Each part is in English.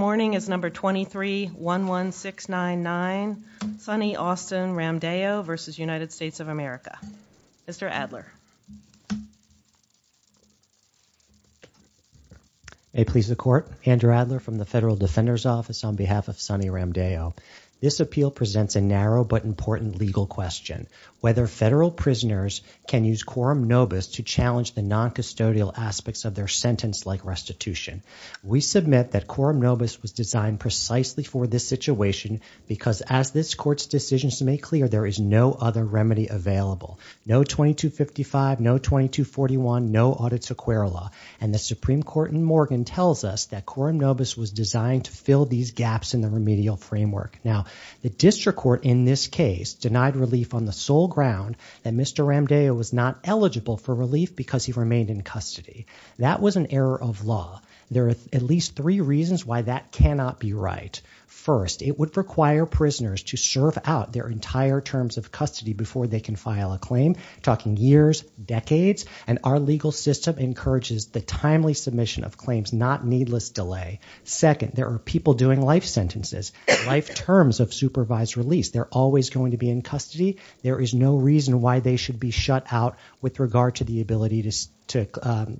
Morning is number 2311699, Sonny Austin Ramdeo v. United States of America. Mr. Adler. May it please the court. Andrew Adler from the Federal Defender's Office on behalf of Sonny Ramdeo. This appeal presents a narrow but important legal question. Whether federal prisoners can use quorum nobis to challenge the non-custodial aspects of their sentence like restitution. We submit that quorum nobis was designed precisely for this situation because as this court's decisions make clear, there is no other remedy available. No 2255, no 2241, no audits of querula. And the Supreme Court in Morgan tells us that quorum nobis was designed to fill these gaps in the remedial framework. Now, the district court in this case denied relief on the sole ground that Mr. Ramdeo was not eligible for relief because he remained in custody. That was an error of law. There are at least three reasons why that cannot be right. First, it would require prisoners to serve out their entire terms of custody before they can file a claim. Talking years, decades, and our legal system encourages the timely submission of claims, not needless delay. Second, there are people doing life sentences, life terms of supervised release. They're always going to be in custody. There is no reason why they should be shut out with regard to the ability to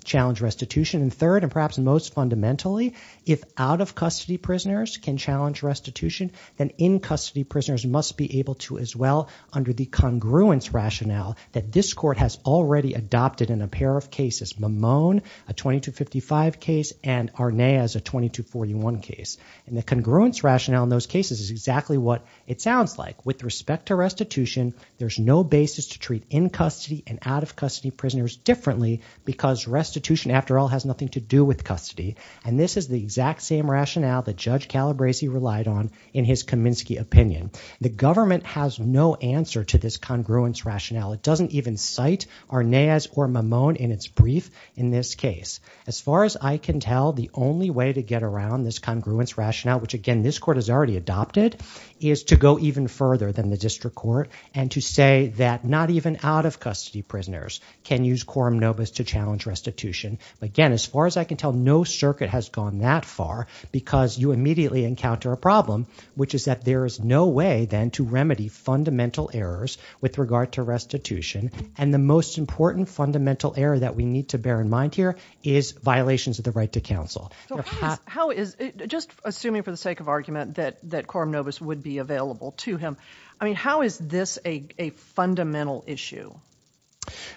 challenge restitution. And third, and perhaps most fundamentally, if out-of-custody prisoners can challenge restitution, then in-custody prisoners must be able to as well under the congruence rationale that this court has already adopted in a pair of cases, Mamone, a 2255 case, and Arneas, a 2241 case. And the congruence rationale in those cases is exactly what it sounds like with respect to restitution. There's no basis to treat in-custody and out-of-custody prisoners differently because restitution, after all, has nothing to do with custody. And this is the exact same rationale that Judge Calabresi relied on in his Kaminsky opinion. The government has no answer to this congruence rationale. It doesn't even cite Arneas or Mamone in its brief in this case. As far as I can tell, the only way to get around this congruence is to go even further than the district court and to say that not even out-of-custody prisoners can use quorum nobis to challenge restitution. Again, as far as I can tell, no circuit has gone that far because you immediately encounter a problem, which is that there is no way then to remedy fundamental errors with regard to restitution. And the most important fundamental error that we need to bear in mind here is violations of the right to counsel. Just assuming for the sake of argument that quorum nobis would be available to him, I mean, how is this a fundamental issue?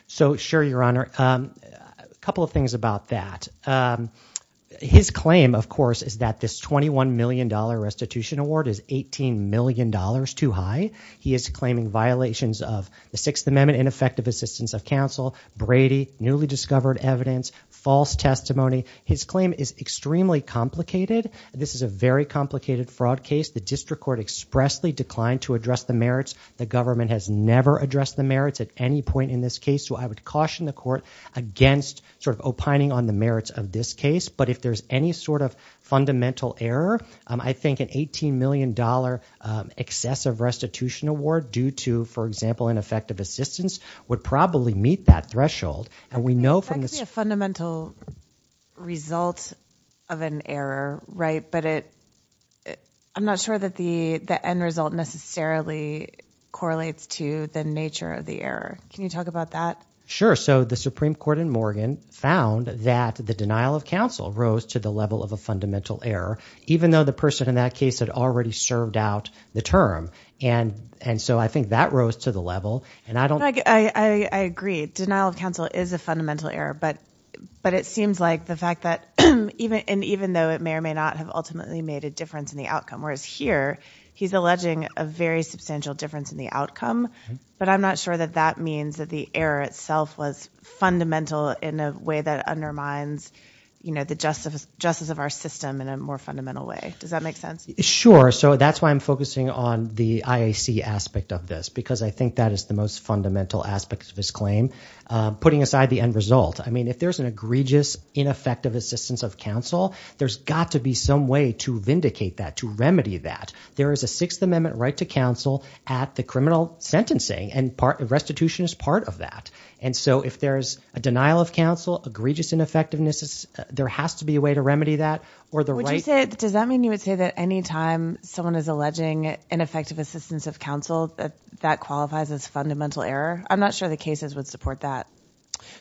So sure, Your Honor. A couple of things about that. His claim, of course, is that this $21 million restitution award is $18 million too high. He is claiming violations of the Sixth Amendment, ineffective assistance of counsel, Brady, newly discovered evidence, false testimony. His claim is extremely complicated. This is a very complicated fraud case. The district court expressly declined to address the merits. The government has never addressed the merits at any point in this case. So I would caution the court against sort of opining on the merits of this case. But if there's any sort of fundamental error, I think an $18 million excessive restitution award due to, for example, ineffective assistance would probably meet that threshold. That could be a fundamental result of an error, right? But I'm not sure that the end result necessarily correlates to the nature of the error. Can you talk about that? Sure. So the Supreme Court in Morgan found that the denial of counsel rose to the level of a fundamental error, even though the person in that case had already served out the term. And so I think that rose to the level. I agree. Denial of counsel is a fundamental error, but it seems like the fact that even though it may or may not have ultimately made a difference in the outcome, whereas here he's alleging a very substantial difference in the outcome, but I'm not sure that that means that the error itself was fundamental in a way that undermines the justice of our system in a more fundamental way. Does that make sense? Sure. So that's why I'm focusing on the IAC aspect of this, because I think that is the most fundamental aspect of his claim. Putting aside the end result, I mean, if there's an egregious, ineffective assistance of counsel, there's got to be some way to vindicate that, to remedy that. There is a Sixth Amendment right to counsel at the criminal sentencing, and restitution is part of that. And so if there's a denial of counsel, egregious ineffectiveness, there has to be a way to remedy that. Does that mean you would say that any time someone is alleging ineffective assistance of counsel, that that qualifies as fundamental error? I'm not sure the cases would support that.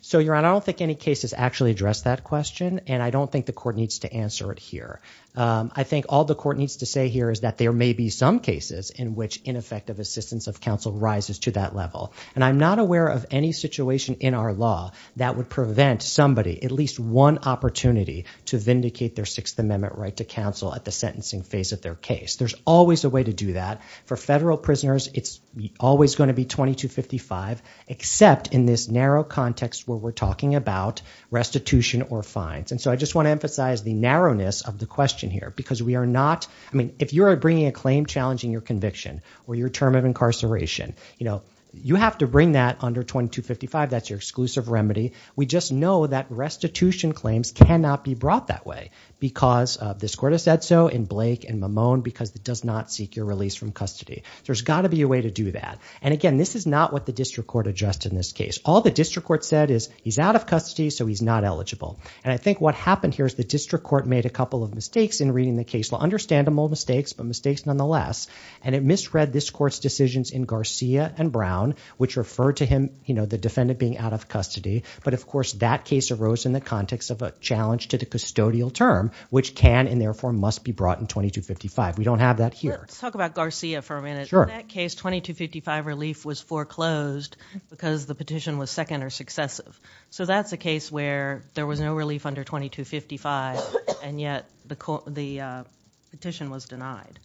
So, Your Honor, I don't think any cases actually address that question, and I don't think the court needs to answer it here. I think all the court needs to say here is that there may be some cases in which ineffective assistance of counsel rises to that level. And I'm not aware of any situation in our law that would prevent somebody, at least one opportunity, to vindicate their Sixth Amendment right to counsel at the sentencing phase of their case. There's always a way to do that. For federal prisoners, it's always going to be 2255, except in this narrow context where we're talking about restitution or fines. And so I just want to emphasize the narrowness of the question here, because we are not, I mean, if you are bringing a claim challenging your conviction, or your term of incarceration, you know, you have to bring that under 2255. That's your exclusive remedy. We just know that restitution claims cannot be brought that way, because this court has said so in Blake and Mamone, because it does not seek your release from custody. There's got to be a way to do that. And again, this is not what the district court addressed in this case. All the district court said is, he's out of custody, so he's not eligible. And I think what happened here is the district court made a couple of mistakes in reading the case. Understandable mistakes, but mistakes nonetheless. And it misread this court's decisions in Garcia and Brown, which referred to him, you know, the defendant being out of custody. But of course, that case arose in the context of a challenge to the custodial term, which can and therefore must be brought in 2255. We don't have that here. Let's talk about Garcia for a minute. In that case, 2255 relief was foreclosed because the petition was second or successive. So that's a case where there was no relief under 2255, and yet the petition was denied.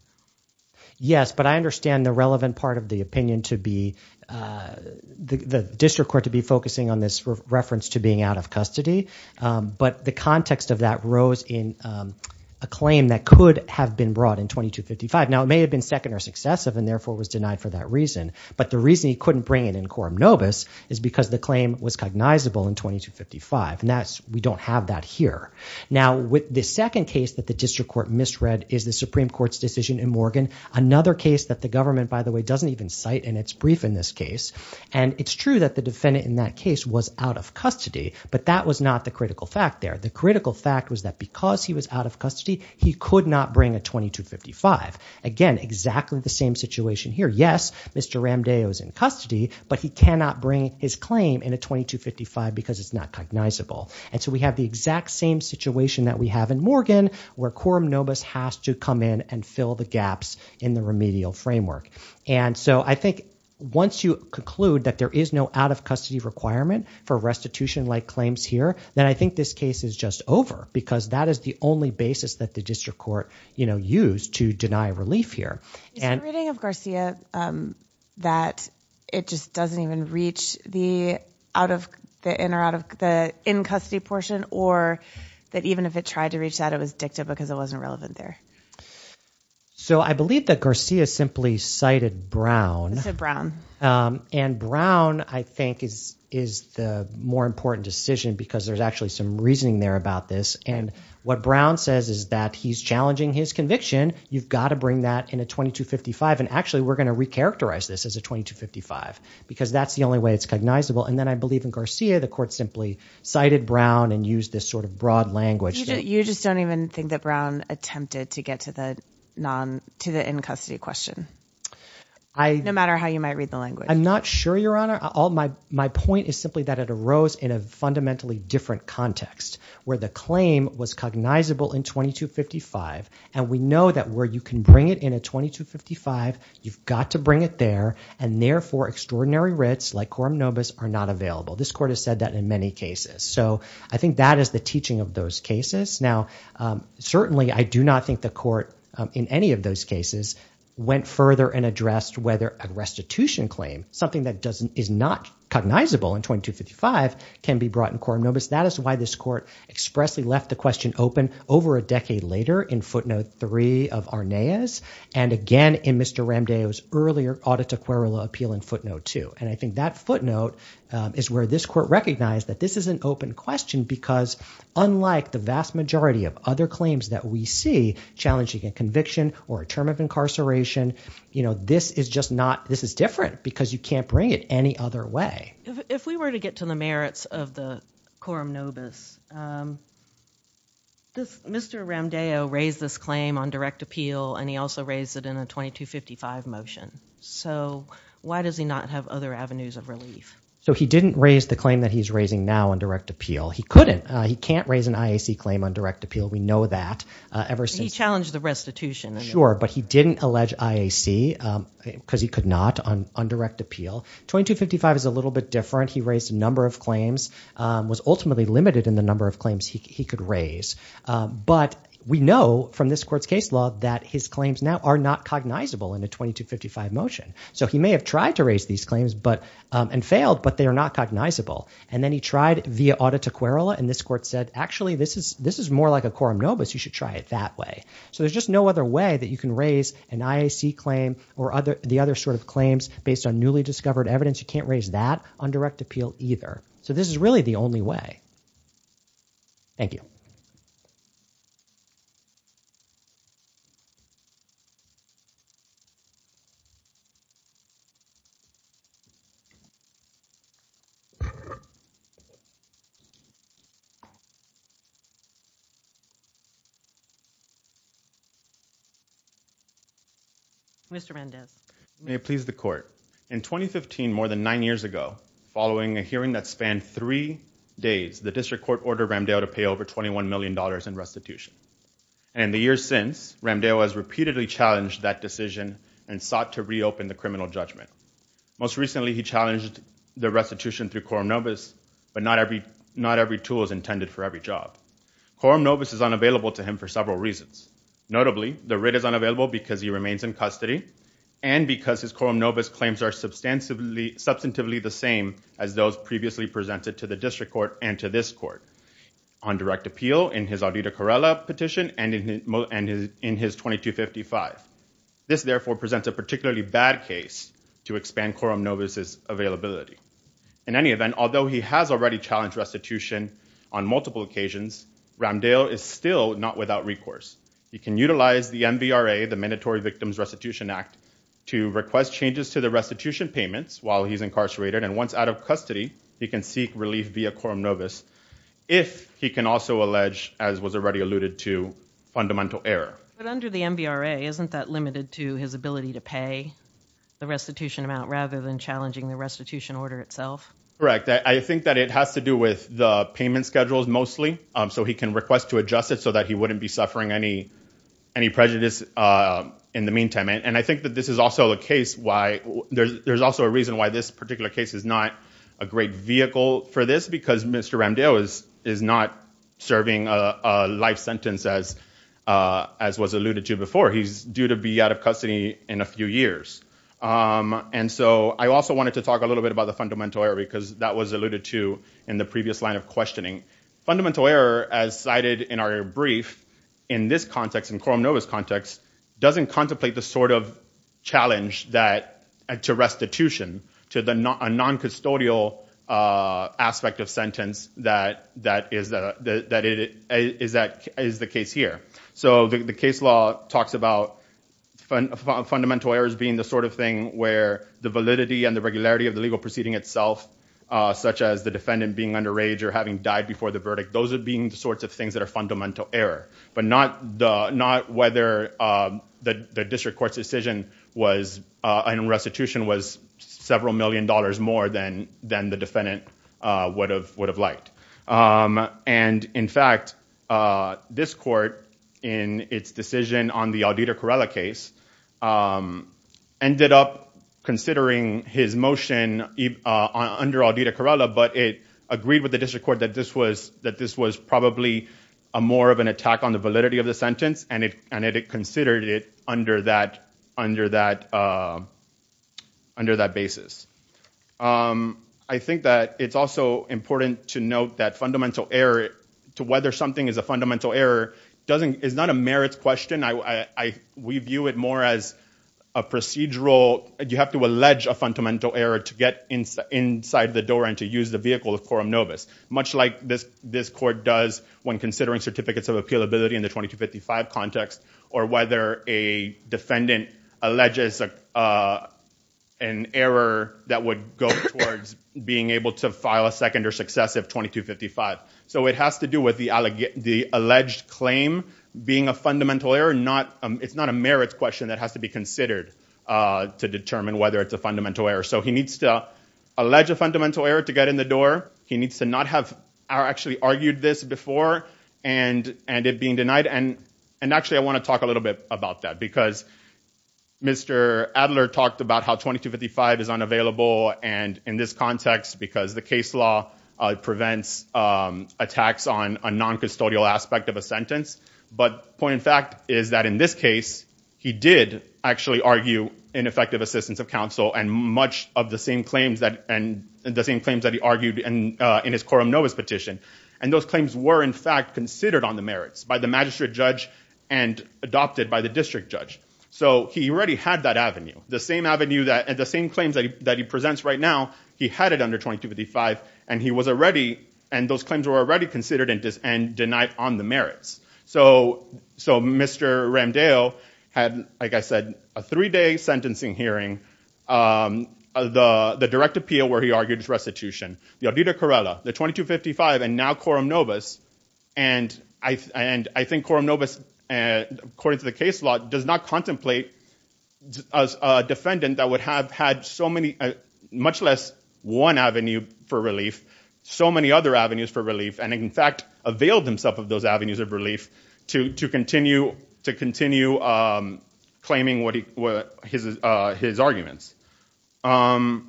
Yes, but I understand the relevant part of the opinion to be, the district court to be on this reference to being out of custody. But the context of that rose in a claim that could have been brought in 2255. Now, it may have been second or successive and therefore was denied for that reason. But the reason he couldn't bring it in Coram Nobis is because the claim was cognizable in 2255. And that's, we don't have that here. Now, with the second case that the district court misread is the Supreme Court's decision in Morgan. Another case that the government, by the way, doesn't even cite, and it's brief in this case. And it's true that the defendant in that case was out of custody, but that was not the critical fact there. The critical fact was that because he was out of custody, he could not bring a 2255. Again, exactly the same situation here. Yes, Mr. Ramdeo is in custody, but he cannot bring his claim in a 2255 because it's not cognizable. And so we have the exact same situation that we have in Morgan where Coram Nobis has to come in and fill the gaps in the remedial framework. And so I think once you conclude that there is no out-of-custody requirement for restitution-like claims here, then I think this case is just over because that is the only basis that the district court used to deny relief here. Is the reading of Garcia that it just doesn't even reach the in-custody portion or that even if it tried to reach that, it was dicta because it wasn't relevant there? So I believe that Garcia simply cited Brown. He said Brown. And Brown, I think, is the more important decision because there's actually some reasoning there about this. And what Brown says is that he's challenging his conviction. You've got to bring that in a 2255. And actually, we're going to recharacterize this as a 2255 because that's the only way it's cognizable. And then I believe in Garcia, the court simply cited Brown and used this sort of broad language. You just don't even think that Brown attempted to get to the in-custody question, no matter how you might read the language? I'm not sure, Your Honor. My point is simply that it arose in a fundamentally different context where the claim was cognizable in 2255. And we know that where you can bring it in a 2255, you've got to bring it there. And therefore, extraordinary writs like quorum nobis are not available. This court has said that in many cases. So I think that is the case. Now, certainly, I do not think the court in any of those cases went further and addressed whether a restitution claim, something that is not cognizable in 2255, can be brought in quorum nobis. That is why this court expressly left the question open over a decade later in footnote three of Arneas. And again, in Mr. Ramdeo's earlier audita querula appeal in footnote two. And I think that footnote is where this court recognized that this is an open question because unlike the vast majority of other claims that we see challenging a conviction or a term of incarceration, this is just not, this is different because you can't bring it any other way. If we were to get to the merits of the quorum nobis, Mr. Ramdeo raised this claim on direct appeal and he also raised it in a 2255 motion. So why does he not have other avenues of relief? So he didn't raise the claim that he is raising now on direct appeal. He couldn't. He can't raise an IAC claim on direct appeal. We know that. He challenged the restitution. Sure, but he didn't allege IAC because he could not on direct appeal. 2255 is a little bit different. He raised a number of claims, was ultimately limited in the number of claims he could raise. But we know from this court's case law that his claims now are not cognizable in a 2255 motion. So he may have tried to raise these claims and failed, but they are not cognizable. And then he tried via audita querula and this court said, actually, this is more like a quorum nobis. You should try it that way. So there's just no other way that you can raise an IAC claim or the other sort of claims based on newly discovered evidence. You can't raise that on direct appeal either. So this is really the only way. Thank you. Mr. Mendes, may it please the court. In 2015, more than nine years ago, following a hearing that spanned three days, the district court ordered Ramdale to pay over $21 million in restitution. And in the years since, Ramdale has repeatedly challenged that decision and sought to reopen the criminal judgment. Most recently, he challenged the restitution through quorum nobis, but not every tool is intended for every job. Quorum nobis is unavailable to him for several reasons. Notably, the writ is unavailable because he remains in custody and because his quorum nobis claims are substantively the same as those previously presented to the district court and to this court. On direct appeal, in his Audito Corrella petition and in his 2255. This therefore presents a particularly bad case to expand quorum nobis's availability. In any event, although he has already challenged restitution on multiple occasions, Ramdale is still not without recourse. He can utilize the MVRA, the Mandatory Victims Restitution Act, to request changes to the restitution payments while he's incarcerated. And once out of custody, he can seek relief via quorum nobis if he can also allege, as was already alluded to, fundamental error. But under the MVRA, isn't that limited to his ability to pay the restitution amount rather than challenging the restitution order itself? Correct. I think that it has to do with the payment schedules mostly, so he can request to adjust it so that he wouldn't be suffering any prejudice in the meantime. And I think that this is also a case why there's also a reason why this particular case is not a great vehicle for this because Mr. Ramdale is not serving a life sentence as was alluded to before. He's due to be out of custody in a few years. And so I also wanted to talk a little bit about the fundamental error because that was alluded to in the previous line of questioning. Fundamental error, as cited in our brief, in this context, in quorum nobis context, doesn't contemplate the sort of challenge to restitution, to a non-custodial aspect of sentence that is the case here. So the case law talks about fundamental errors being the sort of thing where the validity and the regularity of the legal proceeding itself, such as the defendant being underage or having died before the verdict, those are being the sorts of things that are fundamental error. But not whether the district court's decision was, and restitution was several million dollars more than the defendant would have liked. And in fact, this court, in its decision on the Auditore Corrella case, ended up considering his motion under Auditore Corrella, but it agreed with the district court that this was probably more of an attack on the validity of the sentence, and it considered it under that basis. I think that it's also important to note that fundamental error, to whether something is a fundamental error, is not a merits question. We view it more as a procedural, you have to allege a fundamental error to get inside the door and to use the example of quorum novus, much like this court does when considering certificates of appealability in the 2255 context, or whether a defendant alleges an error that would go towards being able to file a second or successive 2255. So it has to do with the alleged claim being a fundamental error, it's not a merits question that has to be considered to determine whether it's a fundamental error. So he needs to allege a fundamental error to get in the door, he needs to not have actually argued this before, and it being denied. And actually I want to talk a little bit about that, because Mr. Adler talked about how 2255 is unavailable and in this context, because the case law prevents attacks on a non-custodial aspect of a sentence, but the point in fact is that in this case, he did actually argue ineffective assistance of counsel and much of the same claims that he argued in his quorum novus petition, and those claims were in fact considered on the merits by the magistrate judge and adopted by the district judge. So he already had that avenue, the same avenue, the same claims that he presents right now, he had it under 2255 and he was already, and those claims were already considered and denied on the merits. So Mr. Ramdale had, like I was hearing, the direct appeal where he argued his restitution. The Ardita Corella, the 2255 and now quorum novus, and I think quorum novus, according to the case law, does not contemplate a defendant that would have had so many, much less one avenue for relief, so many other avenues for relief, and in fact availed himself of those avenues of relief to continue claiming his arguments. Why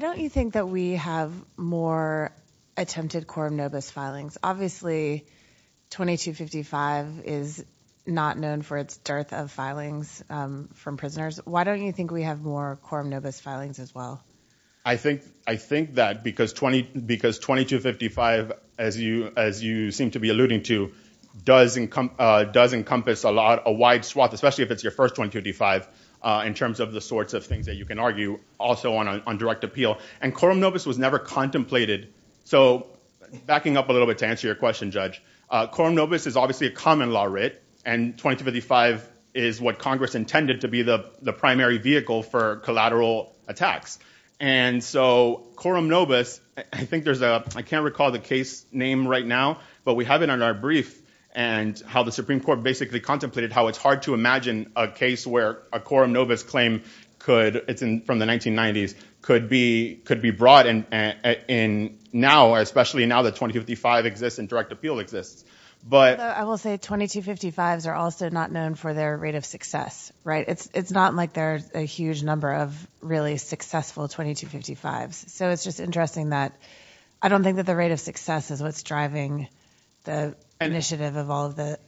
don't you think that we have more attempted quorum novus filings? Obviously 2255 is not known for its dearth of filings from prisoners. Why don't you think we have more quorum novus filings as well? I think that because 2255, as you seem to be alluding to, does encompass a wide swath, especially if it's your first 2255, in terms of the sorts of things that you can argue also on direct appeal, and quorum novus was never contemplated. So backing up a little bit to answer your question, Judge, quorum novus is obviously a common law writ and 2255 is what Congress intended to be the primary vehicle for collateral attacks. And so quorum novus, I think there's a, I can't recall the case name right now, but we have it on our brief, and how the Supreme Court basically contemplated how it's hard to imagine a case where a quorum novus claim could, it's from the 1990s, could be brought in now, especially now that 2255 exists and direct appeal exists. I will say 2255s are also not known for their rate of success, right? It's not like there's a huge number of really successful 2255s. So it's just interesting that I don't think that the rate of success is what's driving the initiative of all of the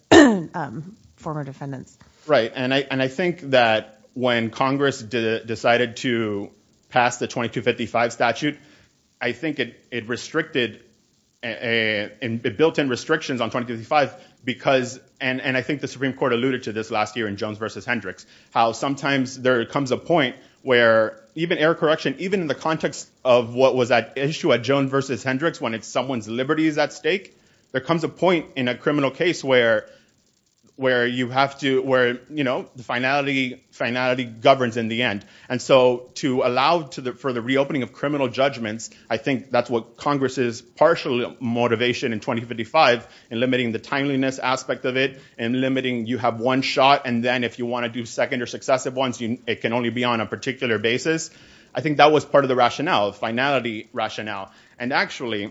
former defendants. Right. And I think that when Congress decided to pass the 2255 statute, I think it restricted, it built in restrictions on 2255 because, and I think the Supreme Court alluded to this last year in Jones versus Hendricks, how sometimes there comes a point where even error correction, and even in the context of what was at issue at Jones versus Hendricks, when it's someone's liberties at stake, there comes a point in a criminal case where you have to, where, you know, the finality governs in the end. And so to allow for the reopening of criminal judgments, I think that's what Congress's partial motivation in 2255 in limiting the timeliness aspect of it and limiting, you have one shot, and then if you want to do second or successive ones, it can only be on a particular basis. I think that was part of the rationale, the finality rationale. And actually,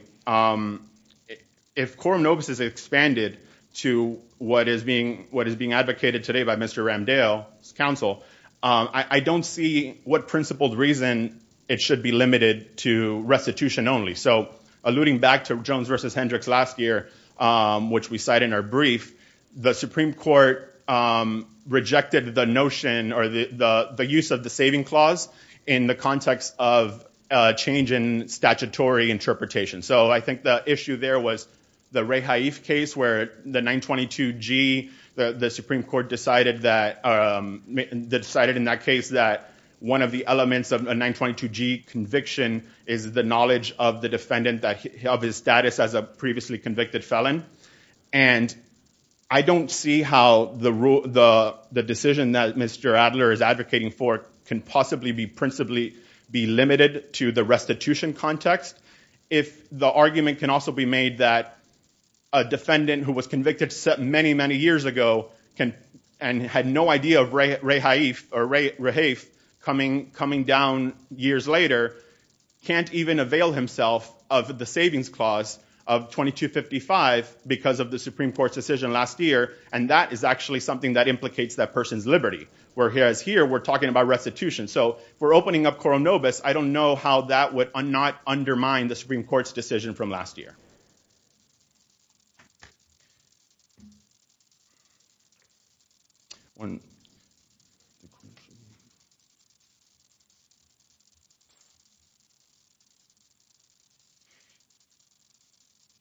if quorum nobis is expanded to what is being advocated today by Mr. Ramdale's counsel, I don't see what principled reason it should be limited to restitution only. So alluding back to Jones versus Hendricks last year, which we cite in our brief, the Supreme Court rejected the notion or the use of the saving clause in the context of change in statutory interpretation. So I think the issue there was the Ray Haif case where the 922G, the Supreme Court decided that, decided in that case that one of the elements of a 922G conviction is the knowledge of the defendant of his status as a previously convicted felon. And I don't see how the decision that Mr. Adler is advocating for can possibly be principally be limited to the restitution context. If the argument can also be made that a defendant who was convicted many, many years ago and had no of Ray Haif coming down years later can't even avail himself of the savings clause of 2255 because of the Supreme Court's decision last year, and that is actually something that implicates that person's liberty. Whereas here, we're talking about restitution. So if we're opening up quorum nobis, I don't know how that would not undermine the Supreme Court's decision from last year.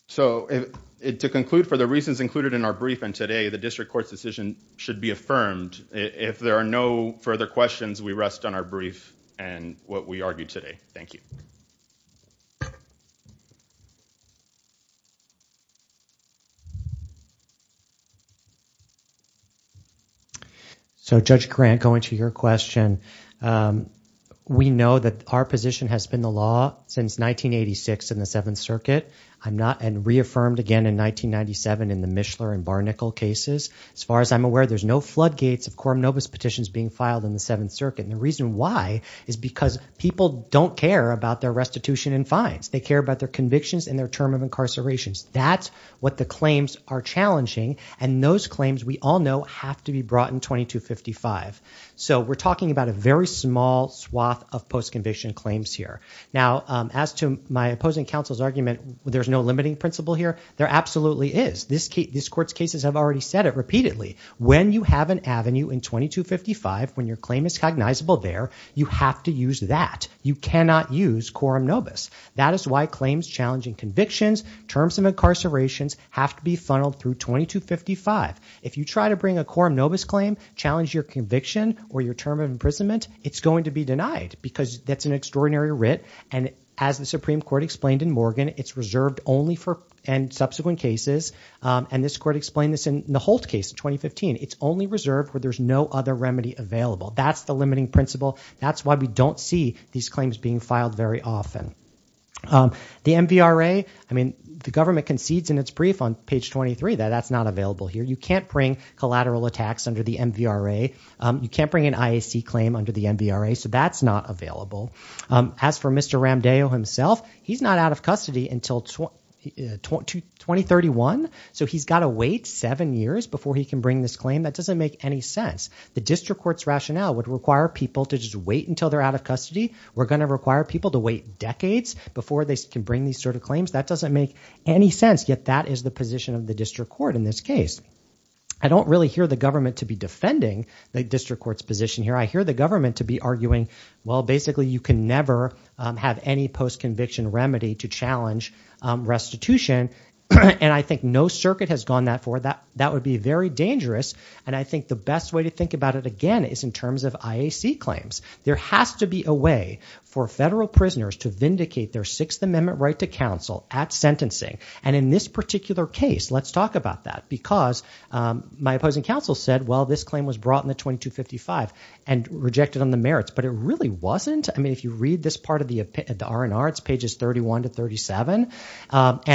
So to conclude, for the reasons included in our brief and today, the district court's decision should be affirmed. If there are no further questions, we rest on our brief and what we argued today. Thank you. So Judge Grant, going to your question, we know that our position has been the law since 1986 in the Seventh Circuit. I'm not and reaffirmed again in 1997 in the Mishler and Barnicle cases. As far as I'm aware, there's no floodgates of quorum nobis petitions being filed in the Seventh Circuit, and the reason why is because people don't care about their restitution and fines. They care about their convictions and their term of incarcerations. That's what the claims are challenging, and those claims, we all know, have to be brought in 2255. So we're talking about a very small swath of post-conviction claims here. Now, as to my opposing counsel's argument, there's no limiting principle here. There absolutely is. This court's cases have already said it repeatedly. When you have an avenue in 2255, when your claim is cognizable there, you have to use that. You cannot use quorum nobis. That is why claims challenging convictions, terms of incarcerations have to be funneled through 2255. If you try to bring a quorum nobis claim, challenge your conviction or your term of imprisonment, it's going to be denied because that's an extraordinary writ, and as the Supreme Court explained in Morgan, it's reserved only for subsequent cases, and this court explained this in the Holt case in 2015. It's only reserved where there's no other remedy available. That's the limiting principle. That's why we don't see these claims being filed very often. The MVRA, I mean, the government concedes in its brief on page 23 that that's not available here. You can't bring collateral attacks under the MVRA. You can't bring an IAC claim under the MVRA, so that's not available. As for Mr. Ramdeo himself, he's not out of custody until 2031, so he's got to wait seven years before he can bring this claim. That doesn't make any sense. The district court's rationale would require people to just wait until they're out of custody. We're going to require people to wait decades before they can bring these sort of claims. That doesn't make any sense, yet that is the position of the district court in this case. I don't really hear the government to be defending the district court's position here. I hear the government to be arguing, basically, you can never have any post-conviction remedy to challenge restitution. I think no circuit has gone that far. That would be very dangerous. I think the best way to think about it, again, is in terms of IAC claims. There has to be a way for federal prisoners to vindicate their Sixth Amendment right to counsel at sentencing. In this particular case, let's talk about that, because my opposing counsel said, well, this claim was brought in the 2255 and rejected on merits, but it really wasn't. If you read this part of the R&R, it's pages 31 to 37.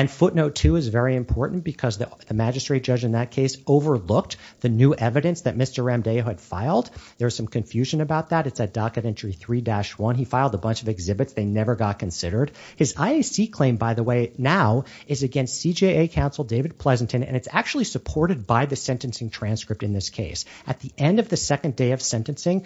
Footnote two is very important because the magistrate judge in that case overlooked the new evidence that Mr. Ramdeo had filed. There's some confusion about that. It's at docket entry 3-1. He filed a bunch of exhibits. They never got considered. His IAC claim, by the way, now is against CJA counsel David Pleasanton, and it's actually supported by the sentencing transcript in this case. At the second day of sentencing,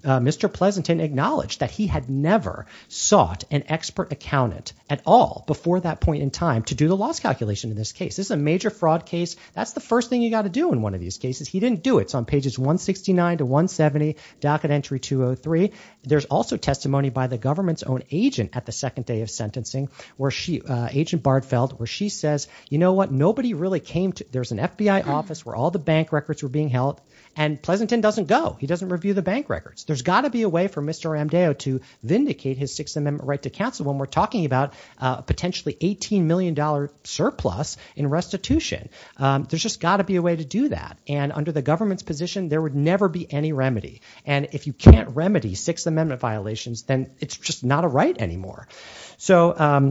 Mr. Pleasanton acknowledged that he had never sought an expert accountant at all before that point in time to do the loss calculation in this case. This is a major fraud case. That's the first thing you got to do in one of these cases. He didn't do it. It's on pages 169 to 170, docket entry 203. There's also testimony by the government's own agent at the second day of sentencing, Agent Bardfeld, where she says, you know what, nobody really came to—there's an FBI office where all the bank records were being held, and Pleasanton doesn't go. He doesn't review the bank records. There's got to be a way for Mr. Ramdeo to vindicate his Sixth Amendment right to counsel when we're talking about a potentially $18 million surplus in restitution. There's just got to be a way to do that, and under the government's position, there would never be any remedy, and if you can't remedy Sixth Amendment violations, then it's just not a right anymore. So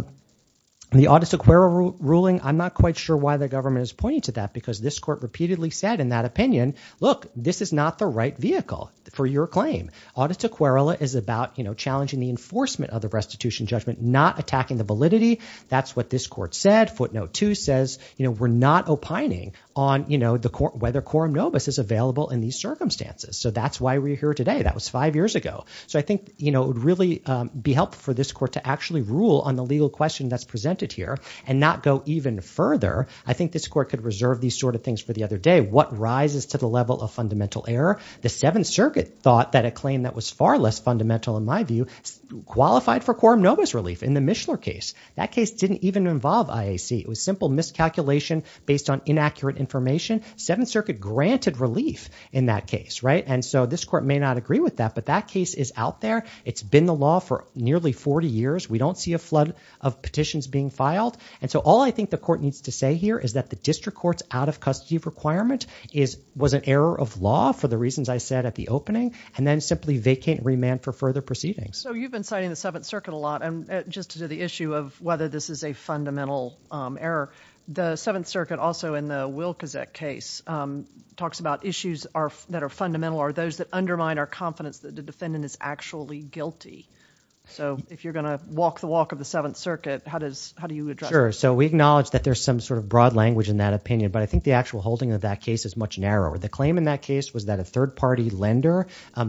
the Audit Sequeira ruling, I'm not quite sure why the government is pointing to that because this court repeatedly said in that opinion, look, this is not the right vehicle for your claim. Audit Sequeira is about, you know, challenging the enforcement of the restitution judgment, not attacking the validity. That's what this court said. Footnote 2 says, you know, we're not opining on, you know, the court—whether quorum nobis is available in these circumstances. So that's why we're here today. That was five years ago. So I think, you know, it would really be helpful for this court to actually rule on the legal question that's presented here and not go even further. I think this court could reserve these sort of things for the other day. What rises to the level of fundamental error? The Seventh Circuit thought that a claim that was far less fundamental in my view qualified for quorum nobis relief in the Mishler case. That case didn't even involve IAC. It was simple miscalculation based on inaccurate information. Seventh Circuit granted relief in that case, right? And so this court may not agree with that, but that case is out there. It's been the law for nearly 40 years. We don't see a flood of petitions being filed, and so all I think the court needs to say here is that the district court's out-of-custody requirement was an error of law for the reasons I said at the opening, and then simply vacate and remand for further proceedings. So you've been citing the Seventh Circuit a lot, and just to the issue of whether this is a fundamental error, the Seventh Circuit also in the Wilkazek case talks about issues that are fundamental or those that undermine our confidence that the defendant is actually guilty. So if you're going to walk the walk of the Seventh Circuit, how do you address that? Sure. So we acknowledge that there's some sort of broad language in that opinion, but I think the actual holding of that case is much narrower. The claim in that case was that a third-party lender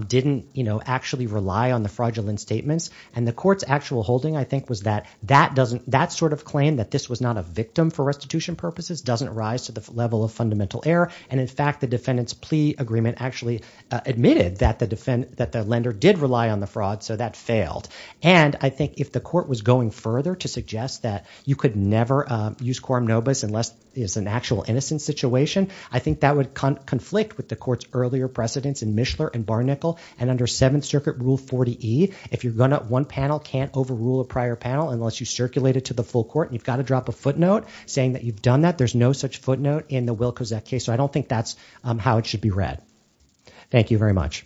didn't actually rely on the fraudulent statements, and the court's actual holding, I think, was that that sort of claim that this was not a victim for restitution purposes doesn't rise to the level of fundamental error, and in fact, the defendant's plea agreement actually admitted that the lender did rely on the fraud, so that failed. And I think if the court was going further to suggest that you could never use quorum nobis unless it's an actual innocent situation, I think that would conflict with the court's earlier precedence in Mishler and Barnicle, and under Seventh Circuit Rule 40E, if you're going to, one panel can't overrule a prior panel unless you circulate it to the full court, and you've got to drop a footnote saying that you've done that. There's no such footnote in the Wilkazek case, so I don't think that's how it should be read. Thank you very much.